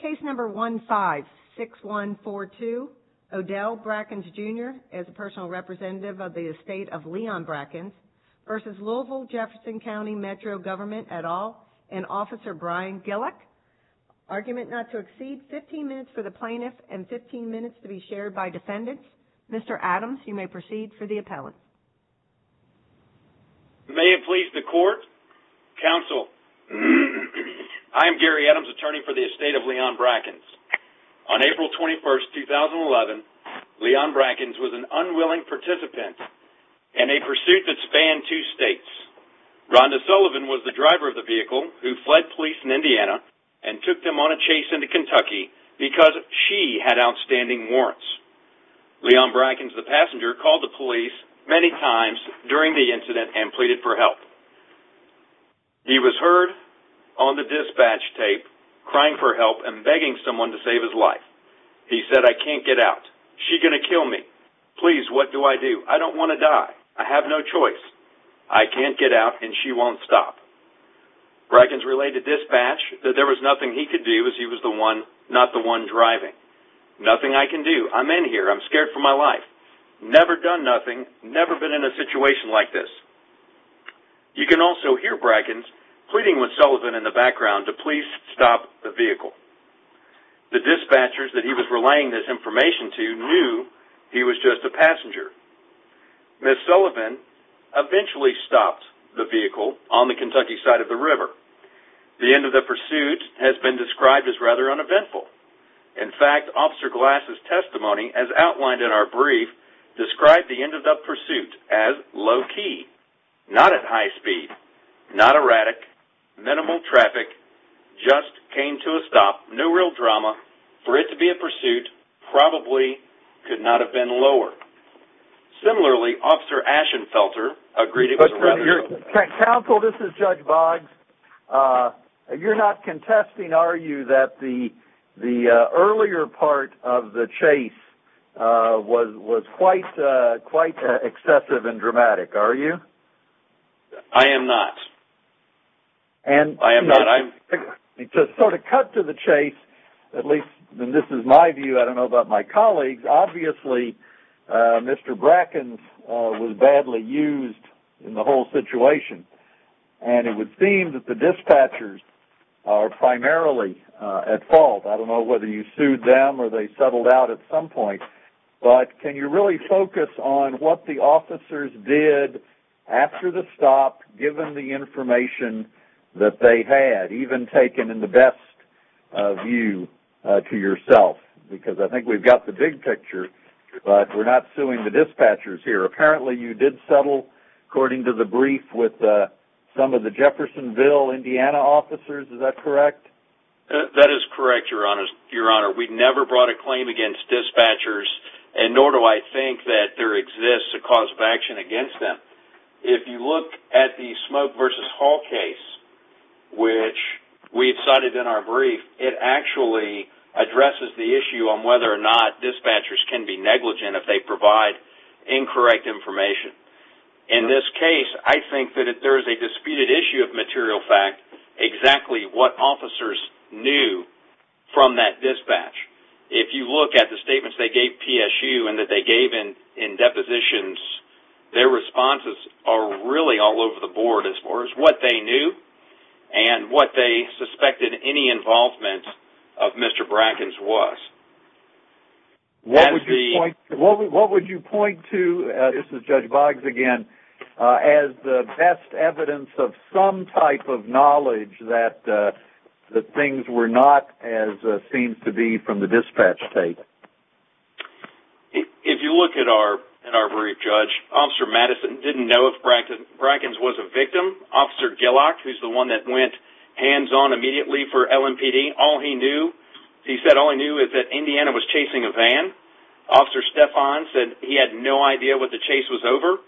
Case number 156142, Odell Brackens Jr. as a personal representative of the estate of Leon Brackens v. Loisville Jefferson County Metro Government et al. and Officer Brian Gillick. Argument not to exceed 15 minutes for the plaintiff and 15 minutes to be shared by defendants. Mr. Adams, you may proceed for the appellant. May it please the court, counsel, I am Gary Adams, attorney for the estate of Leon Brackens. On April 21, 2011, Leon Brackens was an unwilling participant in a pursuit that spanned two states. Rhonda Sullivan was the driver of the vehicle who fled police in Indiana and took them on a chase into Kentucky because she had outstanding warrants. Leon Brackens, the passenger, called the police many times during the incident and pleaded for help. He was heard on the dispatch tape crying for help and begging someone to save his life. He said, I can't get out. She's going to kill me. Please, what do I do? I don't want to die. I have no choice. I can't get out and she won't stop. Brackens relayed to dispatch that there was nothing he could do as he was not the one driving. Nothing I can do. I'm in here. I'm scared for my life. Never done nothing. Never been in a situation like this. You can also hear Brackens pleading with Sullivan in the background to please stop the vehicle. The dispatchers that he was relaying this information to knew he was just a passenger. Ms. Sullivan eventually stopped the vehicle on the Kentucky side of the river. The end of the pursuit has been described as rather uneventful. In fact, Officer Glass' testimony, as outlined in our brief, described the end of the pursuit as low key, not at high speed, not erratic, minimal traffic, just came to a stop, no real drama. For it to be a pursuit, probably could not have been lower. Similarly, Officer Ashenfelter agreed it was rather low. Counsel, this is Judge Boggs. You're not contesting, are you, that the earlier part of the chase was quite excessive and dramatic, are you? I am not. I am not. To sort of cut to the chase, at least, and this is my view, I don't know about my colleagues, obviously Mr. Brackens was badly used in the whole situation. And it would seem that the dispatchers are primarily at fault. I don't know whether you sued them or they settled out at some point. But can you really focus on what the officers did after the stop, given the information that they had, even taken in the best view to yourself? Because I think we've got the big picture, but we're not suing the dispatchers here. Apparently you did settle, according to the brief, with some of the Jeffersonville, Indiana officers, is that correct? That is correct, Your Honor. We never brought a claim against dispatchers, and nor do I think that there exists a cause of action against them. If you look at the Smoke v. Hall case, which we cited in our brief, it actually addresses the issue on whether or not dispatchers can be negligent if they provide incorrect information. In this case, I think that there is a disputed issue of material fact, exactly what officers knew from that dispatch. If you look at the statements they gave PSU and that they gave in depositions, their responses are really all over the board as far as what they knew and what they suspected any involvement of Mr. Brackens was. What would you point to, this is Judge Boggs again, as the best evidence of some type of knowledge that things were not as it seems to be from the dispatch state? If you look at our brief, Judge, Officer Madison didn't know if Brackens was a victim. Officer Gillock, who's the one that went hands-on immediately for LMPD, all he knew is that Indiana was chasing a van. Officer Stephan said he had no idea what the chase was over.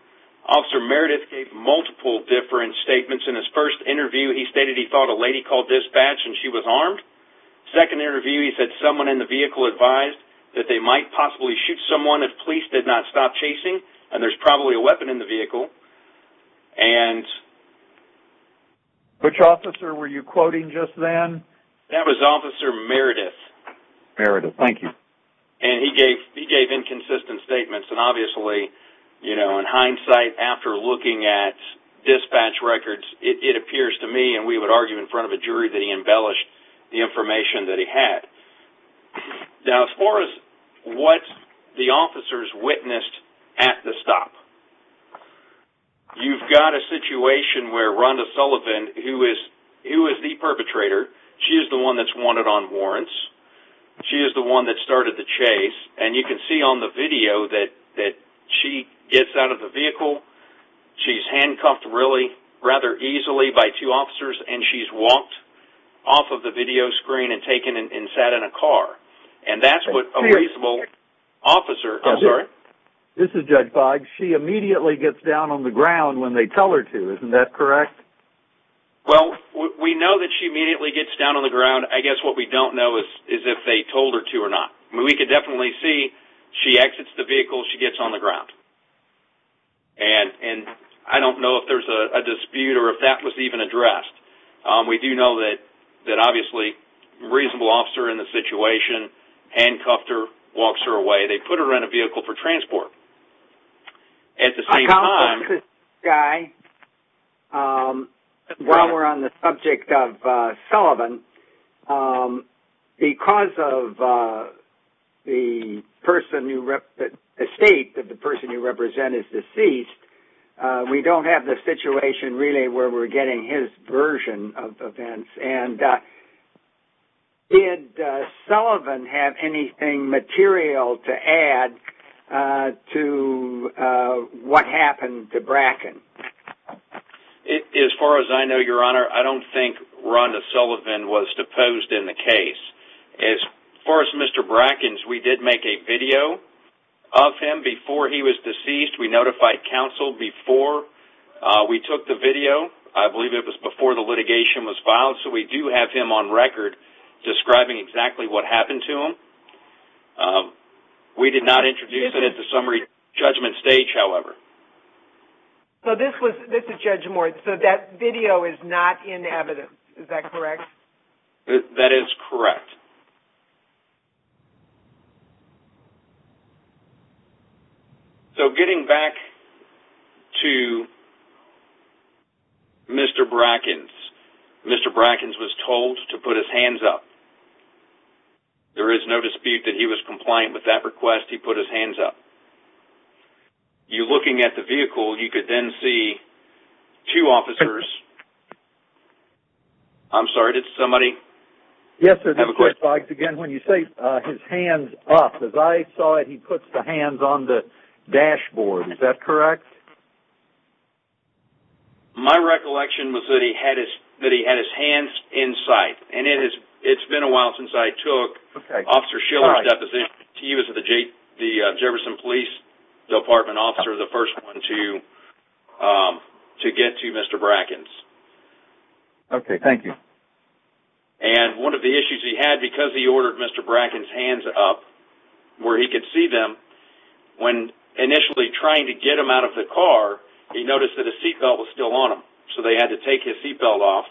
Officer Meredith gave multiple different statements. In his first interview, he stated he thought a lady called dispatch and she was armed. Second interview, he said someone in the vehicle advised that they might possibly shoot someone if police did not stop chasing, and there's probably a weapon in the vehicle. Which officer were you quoting just then? That was Officer Meredith. Meredith, thank you. He gave inconsistent statements. Obviously, in hindsight, after looking at dispatch records, it appears to me, and we would argue in front of a jury, that he embellished the information that he had. Now, as far as what the officers witnessed at the stop, you've got a situation where Rhonda Sullivan, who is the perpetrator, she is the one that's wanted on warrants. She is the one that started the chase, and you can see on the video that she gets out of the vehicle. She's handcuffed really rather easily by two officers, and she's walked off of the video screen and taken and sat in a car. And that's what a reasonable officer... This is Judge Boggs. She immediately gets down on the ground when they tell her to. Isn't that correct? Well, we know that she immediately gets down on the ground. I guess what we don't know is if they told her to or not. We could definitely see she exits the vehicle. She gets on the ground. And I don't know if there's a dispute or if that was even addressed. We do know that, obviously, a reasonable officer in the situation handcuffed her, walks her away. They put her in a vehicle for transport. At the same time... While we're on the subject of Sullivan, because of the state that the person you represent is deceased, we don't have the situation really where we're getting his version of events. Did Sullivan have anything material to add to what happened to Bracken? As far as I know, Your Honor, I don't think Rhonda Sullivan was deposed in the case. As far as Mr. Bracken's, we did make a video of him before he was deceased. We notified counsel before we took the video. I believe it was before the litigation was filed. So we do have him on record describing exactly what happened to him. We did not introduce it at the summary judgment stage, however. So this is Judge Moore. So that video is not in evidence. Is that correct? That is correct. So getting back to Mr. Bracken's, Mr. Bracken's was told to put his hands up. There is no dispute that he was compliant with that request. He put his hands up. You're looking at the vehicle. You could then see two officers. I'm sorry. Did somebody have a question? Again, when you say his hands up, as I saw it, he puts the hands on the dashboard. Is that correct? My recollection was that he had his hands in sight. And it's been a while since I took Officer Shiller's deposition. He was the Jefferson Police Department officer, the first one to get to Mr. Bracken's. Okay, thank you. And one of the issues he had, because he ordered Mr. Bracken's hands up where he could see them, when initially trying to get him out of the car, he noticed that his seatbelt was still on him. So they had to take his seatbelt off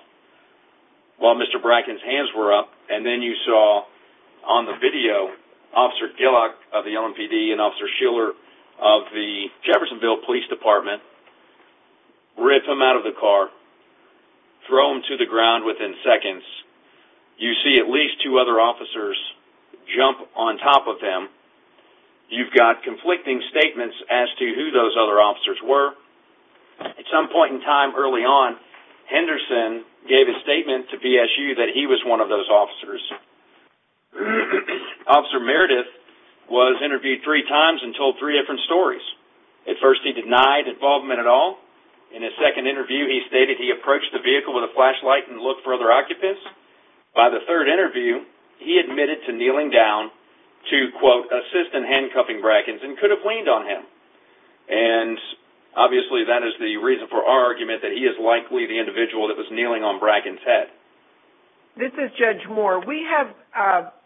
while Mr. Bracken's hands were up. And then you saw on the video Officer Gillock of the LMPD and Officer Shiller of the Jeffersonville Police Department rip him out of the car, throw him to the ground within seconds. You see at least two other officers jump on top of him. You've got conflicting statements as to who those other officers were. At some point in time early on, Henderson gave a statement to BSU that he was one of those officers. Officer Meredith was interviewed three times and told three different stories. At first he denied involvement at all. In his second interview he stated he approached the vehicle with a flashlight and looked for other occupants. By the third interview he admitted to kneeling down to, quote, assist in handcuffing Bracken's and could have leaned on him. And obviously that is the reason for our argument that he is likely the individual that was kneeling on Bracken's head. This is Judge Moore. We have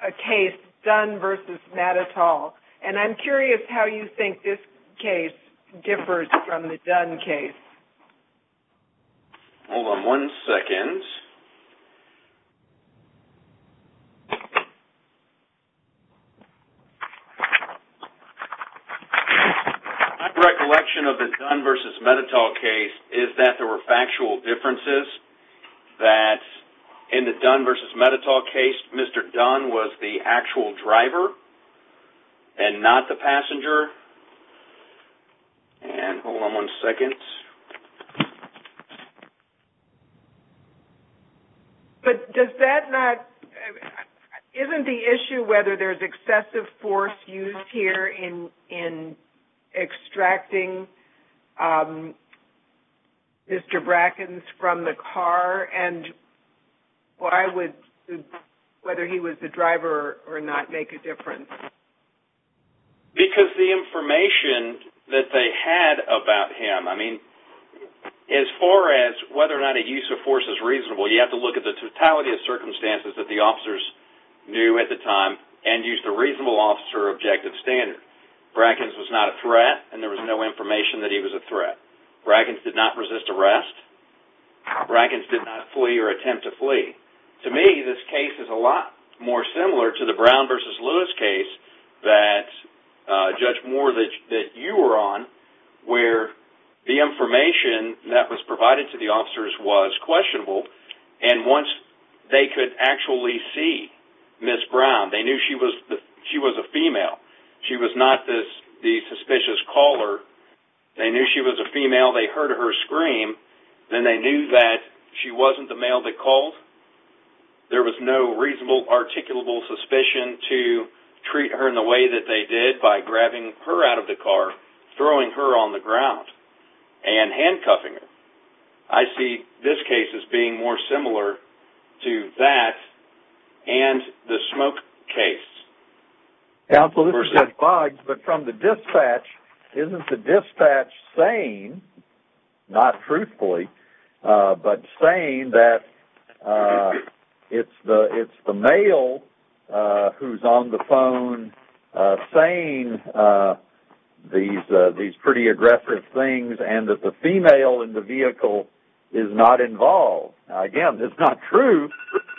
a case, Dunn v. Metatol. And I'm curious how you think this case differs from the Dunn case. Hold on one second. My recollection of the Dunn v. Metatol case is that there were factual differences. That in the Dunn v. Metatol case, Mr. Dunn was the actual driver and not the passenger. And hold on one second. Yes. But does that not – isn't the issue whether there's excessive force used here in extracting Mr. Bracken's from the car? And why would – whether he was the driver or not make a difference? Because the information that they had about him – I mean, as far as whether or not a use of force is reasonable, you have to look at the totality of circumstances that the officers knew at the time and use the reasonable officer objective standard. Bracken's was not a threat and there was no information that he was a threat. Bracken's did not resist arrest. To me, this case is a lot more similar to the Brown v. Lewis case that Judge Moore that you were on, where the information that was provided to the officers was questionable. And once they could actually see Ms. Brown, they knew she was a female. She was not the suspicious caller. They knew she was a female. They heard her scream. Then they knew that she wasn't the male they called. There was no reasonable, articulable suspicion to treat her in the way that they did by grabbing her out of the car, throwing her on the ground, and handcuffing her. I see this case as being more similar to that and the smoke case. Counsel, this is Jeff Boggs, but from the dispatch, isn't the dispatch saying, not truthfully, but saying that it's the male who's on the phone saying these pretty aggressive things and that the female in the vehicle is not involved? Again, it's not true.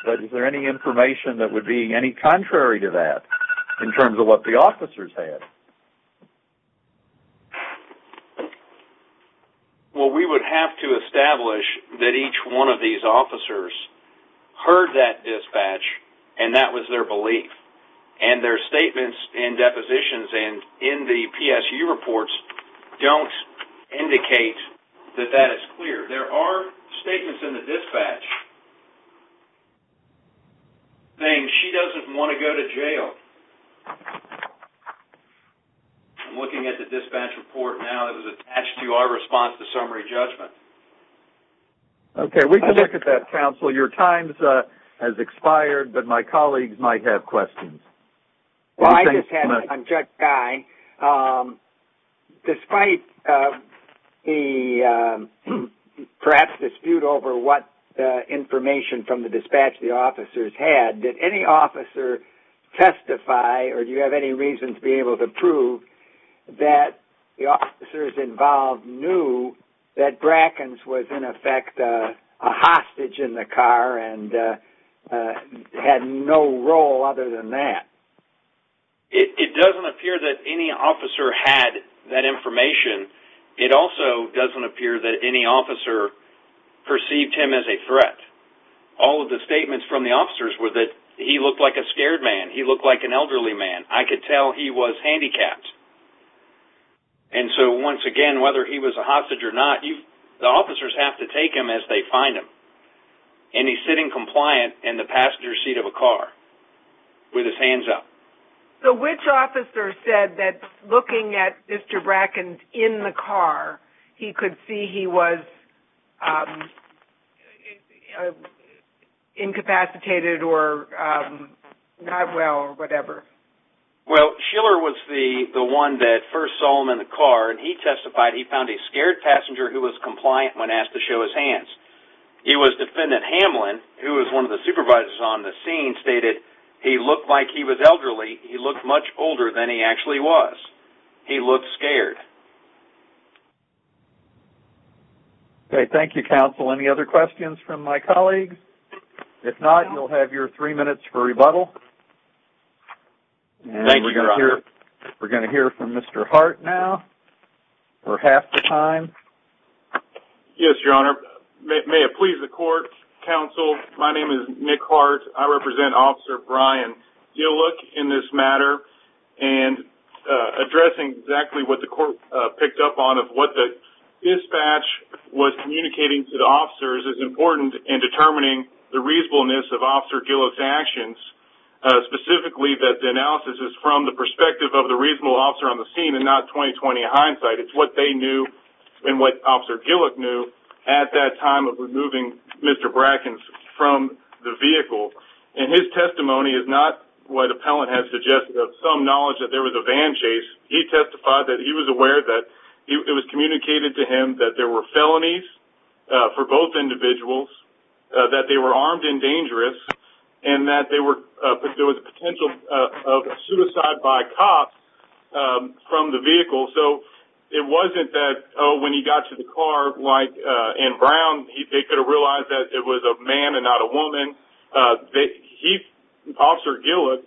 But is there any information that would be any contrary to that in terms of what the officers had? Well, we would have to establish that each one of these officers heard that dispatch, and that was their belief. And their statements and depositions in the PSU reports don't indicate that that is clear. There are statements in the dispatch saying she doesn't want to go to jail. I'm looking at the dispatch report now. It was attached to our response to summary judgment. Okay, we can look at that, Counsel. Your time has expired, but my colleagues might have questions. Well, I just had one, Judge Guy. Despite the perhaps dispute over what information from the dispatch the officers had, did any officer testify, or do you have any reason to be able to prove, that the officers involved knew that Brackens was, in effect, a hostage in the car and had no role other than that? It doesn't appear that any officer had that information. It also doesn't appear that any officer perceived him as a threat. All of the statements from the officers were that he looked like a scared man. He looked like an elderly man. I could tell he was handicapped. And so, once again, whether he was a hostage or not, the officers have to take him as they find him. And he's sitting compliant in the passenger seat of a car with his hands up. So which officer said that looking at Mr. Brackens in the car, he could see he was incapacitated or not well or whatever? Well, Schiller was the one that first saw him in the car, and he testified he found a scared passenger who was compliant when asked to show his hands. He was Defendant Hamlin, who was one of the supervisors on the scene, stated he looked like he was elderly. He looked much older than he actually was. He looked scared. Okay, thank you, Counsel. Any other questions from my colleagues? If not, you'll have your three minutes for rebuttal. Thank you, Your Honor. And we're going to hear from Mr. Hart now for half the time. Yes, Your Honor. May it please the Court, Counsel, my name is Nick Hart. I represent Officer Brian Gillick in this matter. And addressing exactly what the Court picked up on of what the dispatch was communicating to the officers is important in determining the reasonableness of Officer Gillick's actions, specifically that the analysis is from the perspective of the reasonable officer on the scene and not 20-20 hindsight. It's what they knew and what Officer Gillick knew at that time of removing Mr. Brackens from the vehicle. And his testimony is not what appellant has suggested of some knowledge that there was a van chase. He testified that he was aware that it was communicated to him that there were felonies for both individuals, that they were armed and dangerous, and that there was a potential of suicide by cops from the vehicle. So it wasn't that, oh, when he got to the car, like Anne Brown, they could have realized that it was a man and not a woman. Officer Gillick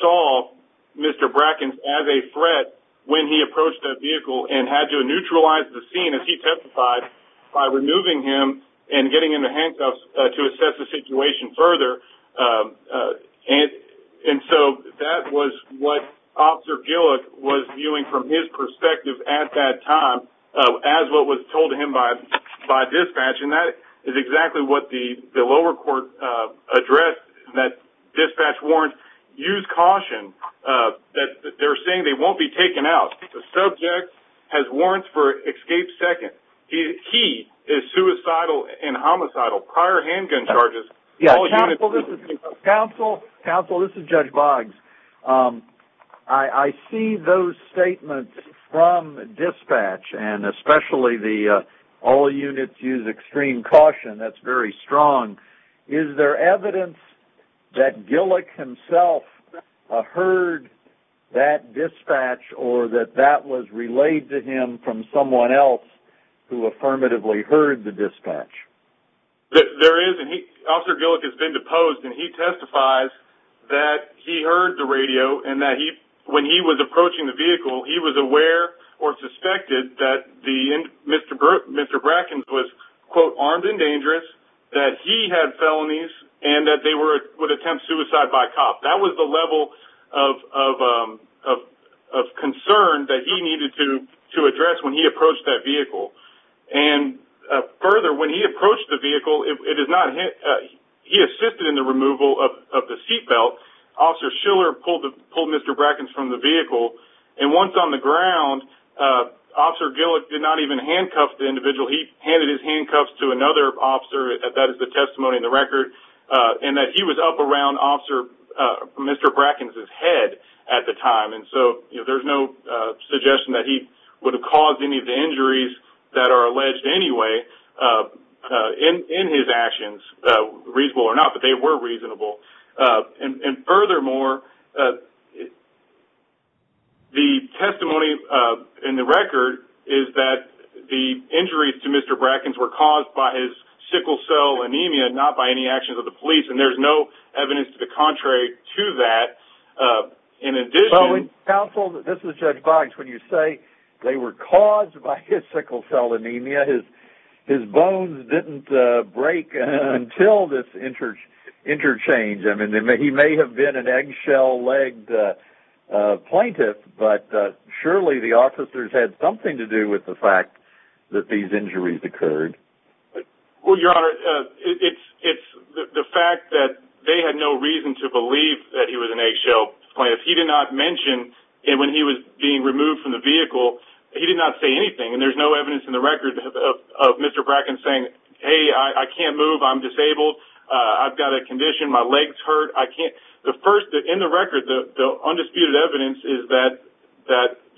saw Mr. Brackens as a threat when he approached that vehicle and had to neutralize the scene, as he testified, by removing him and getting into handcuffs to assess the situation further. And so that was what Officer Gillick was viewing from his perspective at that time, as what was told to him by dispatch. And that is exactly what the lower court addressed, that dispatch warrants use caution, that they're saying they won't be taken out. The subject has warrants for escape second. He is suicidal and homicidal. Counsel, this is Judge Boggs. I see those statements from dispatch, and especially the all units use extreme caution. That's very strong. Is there evidence that Gillick himself heard that dispatch or that that was relayed to him from someone else who affirmatively heard the dispatch? There is, and Officer Gillick has been deposed, and he testifies that he heard the radio and that when he was approaching the vehicle, he was aware or suspected that Mr. Brackens was, quote, armed and dangerous, that he had felonies, and that they would attempt suicide by cop. That was the level of concern that he needed to address when he approached that vehicle. And further, when he approached the vehicle, he assisted in the removal of the seatbelt. Officer Schiller pulled Mr. Brackens from the vehicle, and once on the ground Officer Gillick did not even handcuff the individual. He handed his handcuffs to another officer. That is the testimony in the record. And that he was up around Officer Mr. Brackens' head at the time, and so there's no suggestion that he would have caused any of the injuries that are alleged anyway in his actions, reasonable or not, but they were reasonable. And furthermore, the testimony in the record is that the injuries to Mr. Brackens were caused by his sickle cell anemia, not by any actions of the police, and there's no evidence to the contrary to that. In addition, Counsel, this is Judge Boggs. When you say they were caused by his sickle cell anemia, his bones didn't break until this interchange. I mean, he may have been an eggshell-legged plaintiff, but surely the officers had something to do with the fact that these injuries occurred. Well, Your Honor, it's the fact that they had no reason to believe that he was an eggshell plaintiff. He did not mention, and when he was being removed from the vehicle, he did not say anything, and there's no evidence in the record of Mr. Brackens saying, hey, I can't move, I'm disabled, I've got a condition, my legs hurt, I can't. In the record, the undisputed evidence is that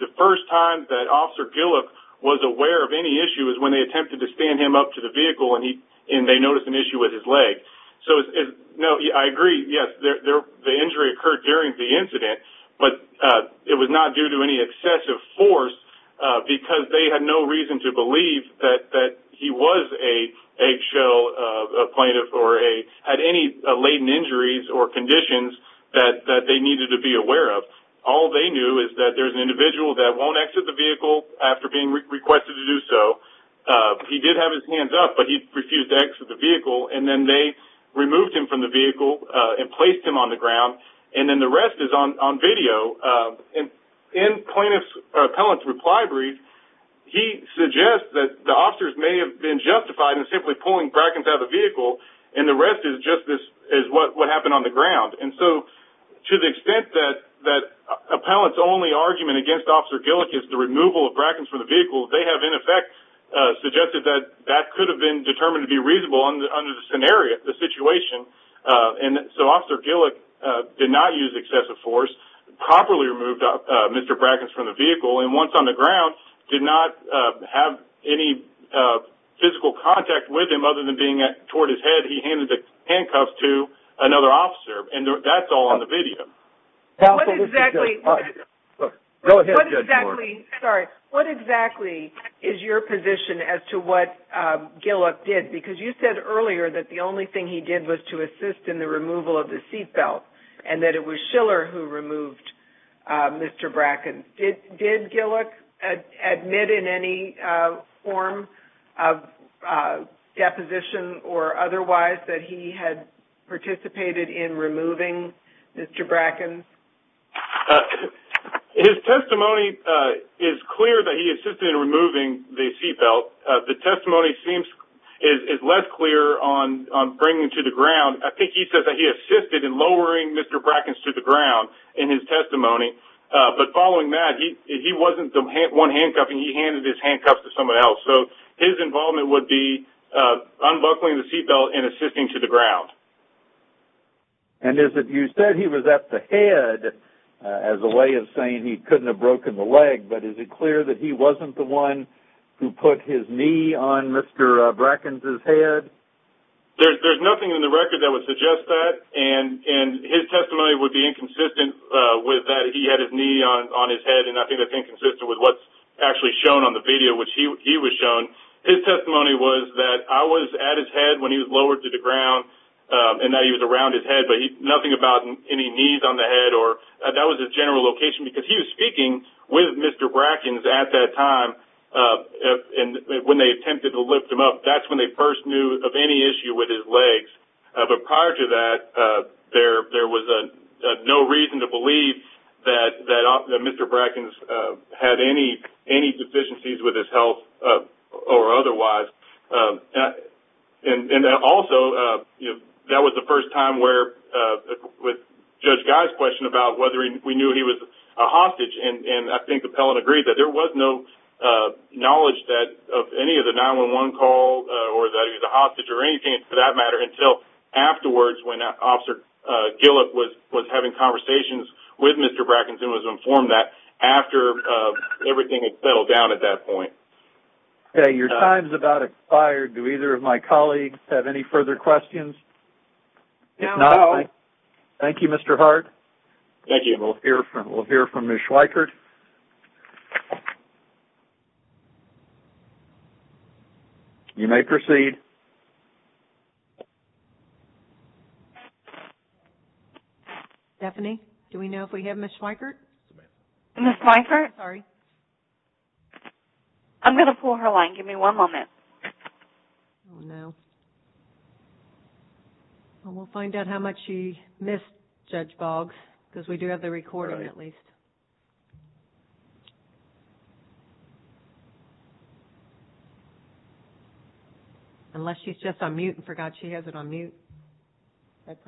the first time that Officer Gillick was aware of any issue was when they attempted to stand him up to the vehicle and they noticed an issue with his leg. So, no, I agree, yes, the injury occurred during the incident, but it was not due to any excessive force because they had no reason to believe that he was an eggshell plaintiff or had any latent injuries or conditions that they needed to be aware of. All they knew is that there's an individual that won't exit the vehicle after being requested to do so. He did have his hands up, but he refused to exit the vehicle, and then they removed him from the vehicle and placed him on the ground, and then the rest is on video. In Plaintiff's Appellant's Reply Brief, he suggests that the officers may have been justified in simply pulling Brackens out of the vehicle, and the rest is just what happened on the ground. And so, to the extent that Appellant's only argument against Officer Gillick is the removal of Brackens from the vehicle, they have, in effect, suggested that that could have been determined to be reasonable under the scenario, the situation. And so Officer Gillick did not use excessive force, properly removed Mr. Brackens from the vehicle, and once on the ground, did not have any physical contact with him other than being toward his head. He handed the handcuffs to another officer, and that's all on the video. What exactly is your position as to what Gillick did? Because you said earlier that the only thing he did was to assist in the removal of the seatbelt, and that it was Schiller who removed Mr. Brackens. Did Gillick admit in any form of deposition or otherwise that he had participated in removing Mr. Brackens? His testimony is clear that he assisted in removing the seatbelt. The testimony is less clear on bringing him to the ground. I think he says that he assisted in lowering Mr. Brackens to the ground in his testimony, but following that, he wasn't the one handcuffing, he handed his handcuffs to someone else. So his involvement would be unbuckling the seatbelt and assisting to the ground. And you said he was at the head as a way of saying he couldn't have broken the leg, but is it clear that he wasn't the one who put his knee on Mr. Brackens' head? There's nothing in the record that would suggest that, and his testimony would be inconsistent with that he had his knee on his head, and I think that's inconsistent with what's actually shown on the video, which he was shown. His testimony was that I was at his head when he was lowered to the ground, and that he was around his head, but nothing about any knees on the head. That was his general location because he was speaking with Mr. Brackens at that time when they attempted to lift him up. That's when they first knew of any issue with his legs. But prior to that, there was no reason to believe that Mr. Brackens had any deficiencies with his health or otherwise. And also, that was the first time with Judge Guy's question about whether we knew he was a hostage, and I think the appellant agreed that there was no knowledge of any of the 911 calls or that he was a hostage or anything for that matter until afterwards when Officer Gillick was having conversations with Mr. Brackens and was informed that after everything had settled down at that point. Okay, your time's about expired. Do either of my colleagues have any further questions? No. Thank you, Mr. Hart. Thank you. We'll hear from Ms. Schweikert. You may proceed. Stephanie, do we know if we have Ms. Schweikert? Ms. Schweikert? Sorry. I'm going to pull her line. Give me one moment. Oh, no. We'll find out how much she missed, Judge Boggs, because we do have the recording at least. Unless she's just on mute and forgot she has it on mute. Okay,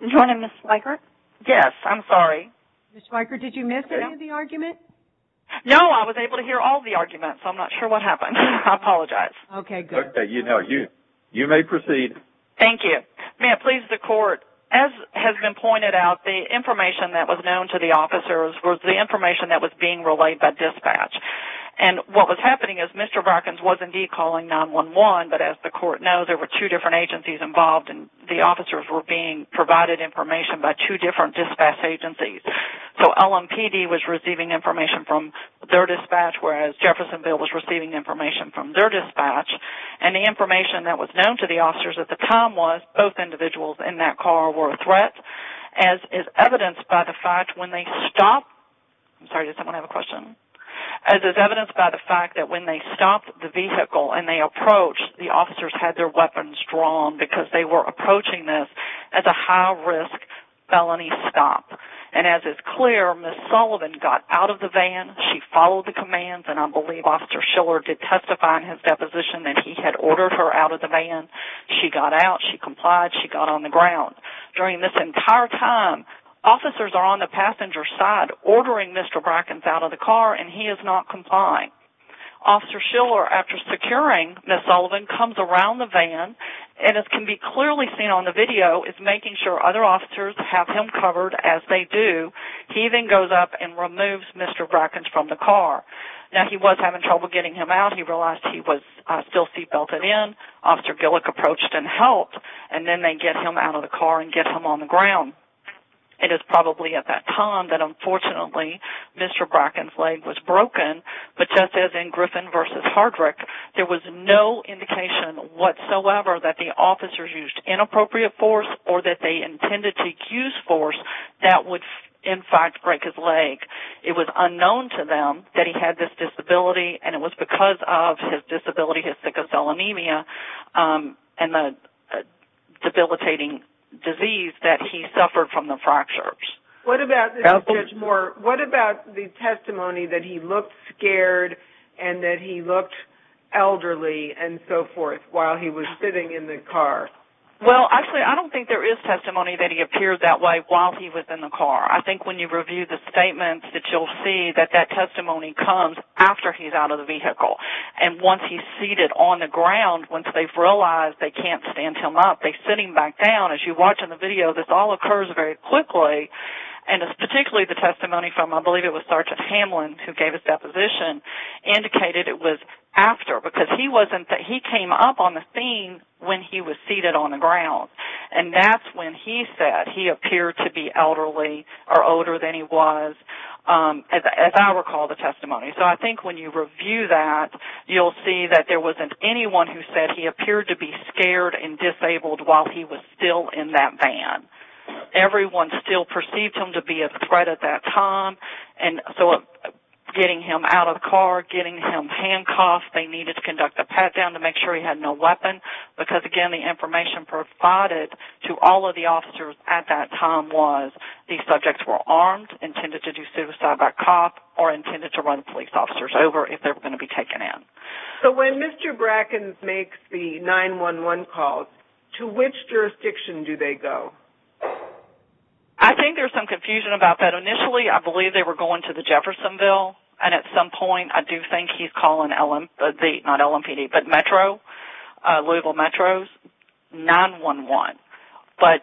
do you want to Ms. Schweikert? Yes, I'm sorry. Ms. Schweikert, did you miss any of the argument? No, I was able to hear all the arguments. I'm not sure what happened. I apologize. Okay, good. Okay, you may proceed. Thank you. May it please the Court, as has been pointed out, the information that was known to the officers was the information that was being relayed by dispatch. And what was happening is Mr. Brackens was indeed calling 911, but as the Court knows there were two different agencies involved and the officers were being provided information by two different dispatch agencies. So LMPD was receiving information from their dispatch, whereas Jeffersonville was receiving information from their dispatch. And the information that was known to the officers at the time was both individuals in that car were a threat, as is evidenced by the fact when they stopped the vehicle and they approached, the officers had their weapons drawn because they were approaching this as a high-risk felony stop. And as is clear, Ms. Sullivan got out of the van. She followed the commands, and I believe Officer Schiller did testify in his deposition that he had ordered her out of the van. She got out. She complied. She got on the ground. During this entire time, officers are on the passenger side ordering Mr. Brackens out of the car, and he is not complying. Officer Schiller, after securing Ms. Sullivan, comes around the van, and as can be clearly seen on the video, is making sure other officers have him covered as they do. He then goes up and removes Mr. Brackens from the car. Now he was having trouble getting him out. He realized he was still seatbelted in. Officer Gillick approached and helped, and then they get him out of the car and get him on the ground. It is probably at that time that unfortunately Mr. Brackens' leg was broken, but just as in Griffin v. Hardrick, there was no indication whatsoever that the officers used inappropriate force or that they intended to use force that would in fact break his leg. It was unknown to them that he had this disability, and it was because of his disability, his sickle cell anemia, and the debilitating disease that he suffered from the fractures. What about the testimony that he looked scared and that he looked elderly and so forth while he was sitting in the car? Well, actually I don't think there is testimony that he appeared that way while he was in the car. I think when you review the statements that you'll see, that that testimony comes after he's out of the vehicle, and once he's seated on the ground, once they've realized they can't stand him up, they sit him back down. As you watch in the video, this all occurs very quickly, and particularly the testimony from, I believe it was Sergeant Hamlin, who gave his deposition, indicated it was after, because he came up on the scene when he was seated on the ground, and that's when he said he appeared to be elderly or older than he was, as I recall the testimony. So I think when you review that, you'll see that there wasn't anyone who said he appeared to be scared and disabled while he was still in that van. Everyone still perceived him to be a threat at that time, and so getting him out of the car, getting him handcuffed, they needed to conduct a pat-down to make sure he had no weapon, because, again, the information provided to all of the officers at that time was these subjects were armed, intended to do suicide by cough, or intended to run police officers over if they were going to be taken in. So when Mr. Brackens makes the 911 calls, to which jurisdiction do they go? I think there's some confusion about that. Initially, I believe they were going to the Jeffersonville, and at some point I do think he's calling the Metro, Louisville Metro, 911. But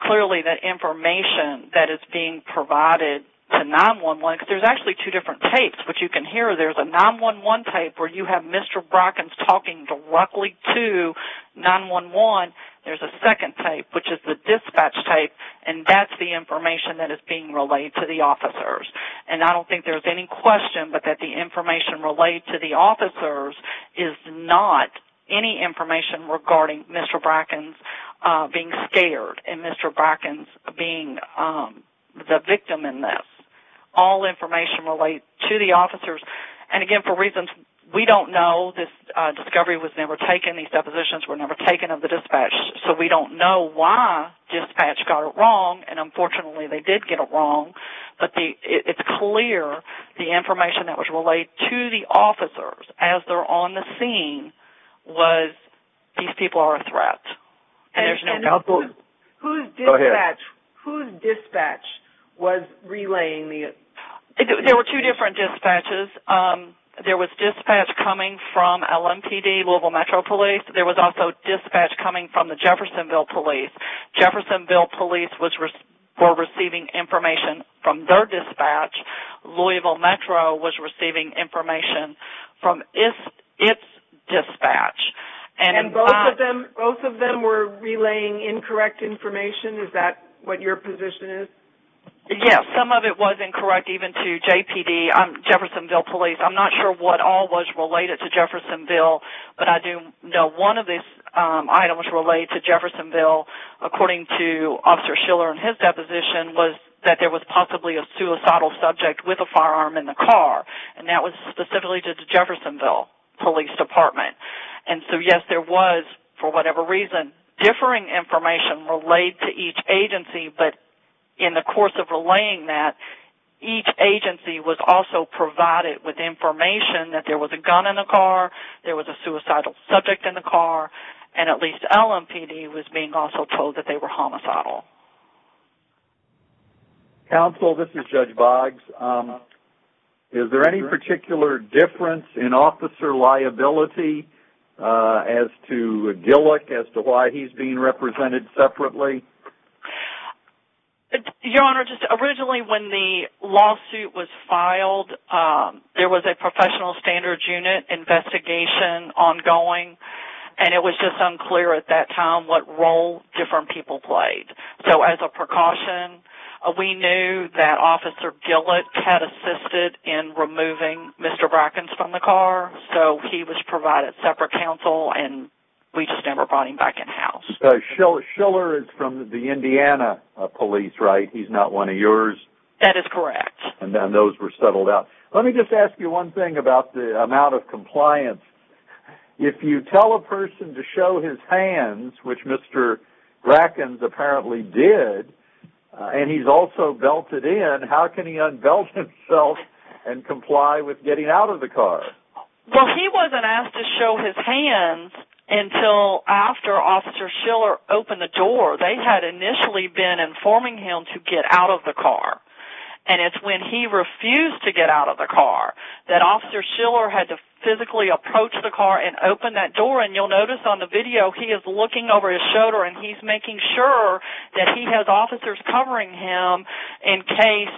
clearly the information that is being provided to 911, there's actually two different tapes, which you can hear. There's a 911 tape where you have Mr. Brackens talking directly to 911. There's a second tape, which is the dispatch tape, and that's the information that is being relayed to the officers. And I don't think there's any question but that the information relayed to the officers is not any information regarding Mr. Brackens being scared and Mr. Brackens being the victim in this. All information relayed to the officers. And again, for reasons we don't know, this discovery was never taken. These depositions were never taken of the dispatch, so we don't know why dispatch got it wrong. And unfortunately they did get it wrong. But it's clear the information that was relayed to the officers as they're on the scene was these people are a threat. And whose dispatch was relaying the information? There were two different dispatches. There was dispatch coming from LMPD, Louisville Metro Police. There was also dispatch coming from the Jeffersonville Police. Jeffersonville Police were receiving information from their dispatch. Louisville Metro was receiving information from its dispatch. And both of them were relaying incorrect information? Is that what your position is? Yes. Some of it was incorrect even to JPD, Jeffersonville Police. I'm not sure what all was related to Jeffersonville, but I do know one of the items related to Jeffersonville, according to Officer Schiller in his deposition, was that there was possibly a suicidal subject with a firearm in the car. And that was specifically to the Jeffersonville Police Department. And so, yes, there was, for whatever reason, differing information relayed to each agency. But in the course of relaying that, each agency was also provided with information that there was a gun in the car, there was a suicidal subject in the car, and at least LMPD was being also told that they were homicidal. Counsel, this is Judge Boggs. Is there any particular difference in officer liability as to Gillick, as to why he's being represented separately? Your Honor, just originally when the lawsuit was filed, there was a professional standards unit investigation ongoing, and it was just unclear at that time what role different people played. So as a precaution, we knew that Officer Gillick had assisted in removing Mr. Brackens from the car, so he was provided separate counsel and we just never brought him back in house. So Schiller is from the Indiana police, right? He's not one of yours? That is correct. And then those were settled out. Let me just ask you one thing about the amount of compliance. If you tell a person to show his hands, which Mr. Brackens apparently did, and he's also belted in, how can he unbelt himself and comply with getting out of the car? Well, he wasn't asked to show his hands until after Officer Schiller opened the door. They had initially been informing him to get out of the car, and it's when he refused to get out of the car that Officer Schiller had to physically approach the car and open that door. And you'll notice on the video, he is looking over his shoulder and he's making sure that he has officers covering him in case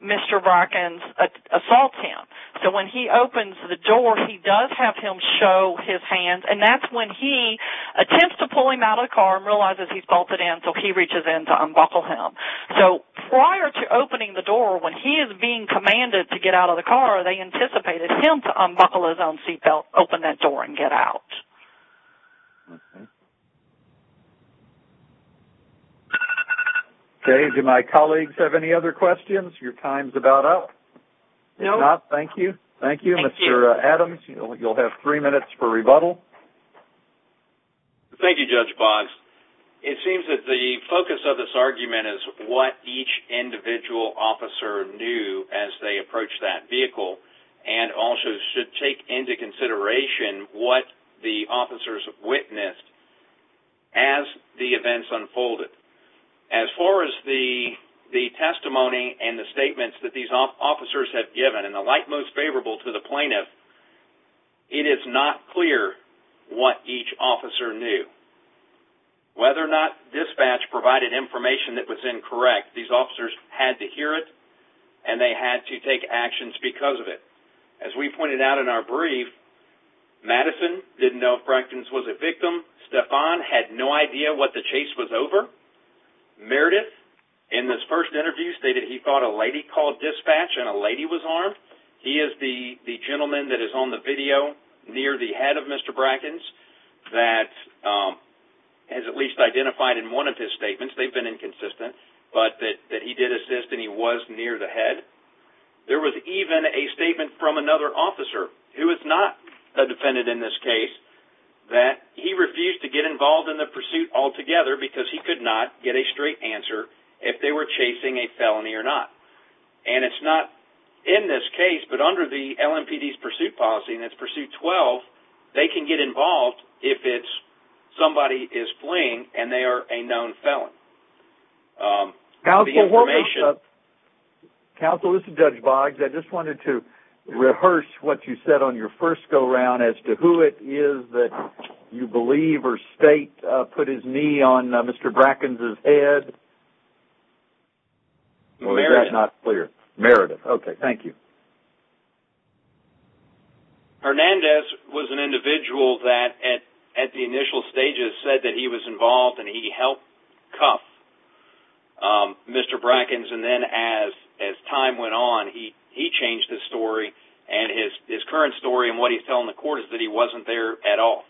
Mr. Brackens assaults him. So when he opens the door, he does have him show his hands, and that's when he attempts to pull him out of the car and realizes he's belted in, so he reaches in to unbuckle him. So prior to opening the door, when he is being commanded to get out of the car, they anticipated him to unbuckle his own seatbelt, open that door and get out. Okay. Do my colleagues have any other questions? Your time is about up. If not, thank you. Thank you, Mr. Adams. You'll have three minutes for rebuttal. Thank you, Judge Boggs. It seems that the focus of this argument is what each individual officer knew as they approached that vehicle, and also should take into consideration what the officers witnessed as the events unfolded. As far as the testimony and the statements that these officers have given, and the like most favorable to the plaintiff, it is not clear what each officer knew. Whether or not dispatch provided information that was incorrect, these officers had to hear it and they had to take actions because of it. As we pointed out in our brief, Madison didn't know if Brackens was a victim. Stephan had no idea what the chase was over. Meredith, in this first interview, stated he thought a lady called dispatch and a lady was armed. He is the gentleman that is on the video near the head of Mr. Brackens that has at least identified in one of his statements, they've been inconsistent, but that he did assist and he was near the head. There was even a statement from another officer, who is not a defendant in this case, that he refused to get involved in the pursuit altogether because he could not get a straight answer if they were chasing a felony or not. It's not in this case, but under the LMPD's pursuit policy, and it's pursuit 12, they can get involved if somebody is fleeing and they are a known felon. Counsel, hold on a second. Counsel, this is Judge Boggs. I just wanted to rehearse what you said on your first go-round as to who it is that you believe or state put his knee on Mr. Brackens' head. Meredith. Oh, is that not clear? Meredith. Okay, thank you. Hernandez was an individual that, at the initial stages, said that he was involved and he helped cuff Mr. Brackens, and then as time went on, he changed his story. His current story and what he's telling the court is that he wasn't there at all,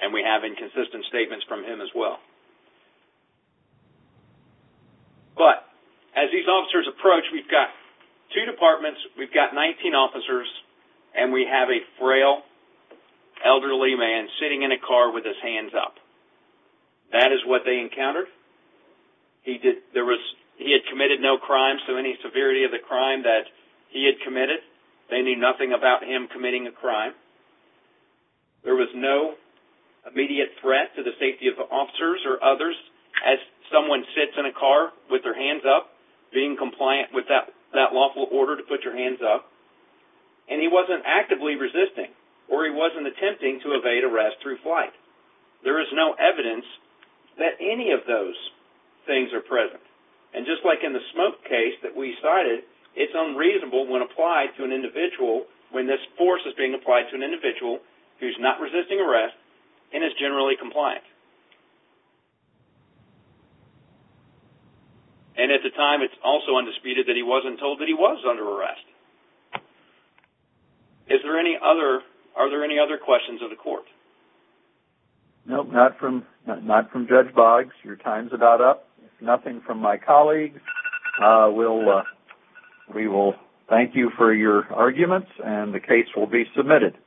and we have inconsistent statements from him as well. But as these officers approach, we've got two departments. We've got 19 officers, and we have a frail elderly man sitting in a car with his hands up. That is what they encountered. He had committed no crimes to any severity of the crime that he had committed. They knew nothing about him committing a crime. There was no immediate threat to the safety of the officers or others as someone sits in a car with their hands up, being compliant with that lawful order to put your hands up, and he wasn't actively resisting or he wasn't attempting to evade arrest through flight. There is no evidence that any of those things are present, and just like in the smoke case that we cited, it's unreasonable when applied to an individual, when this force is being applied to an individual who's not resisting arrest and is generally compliant. And at the time, it's also undisputed that he wasn't told that he was under arrest. Are there any other questions of the court? No, not from Judge Boggs. Your time's about up. Nothing from my colleagues. We will thank you for your arguments, and the case will be submitted.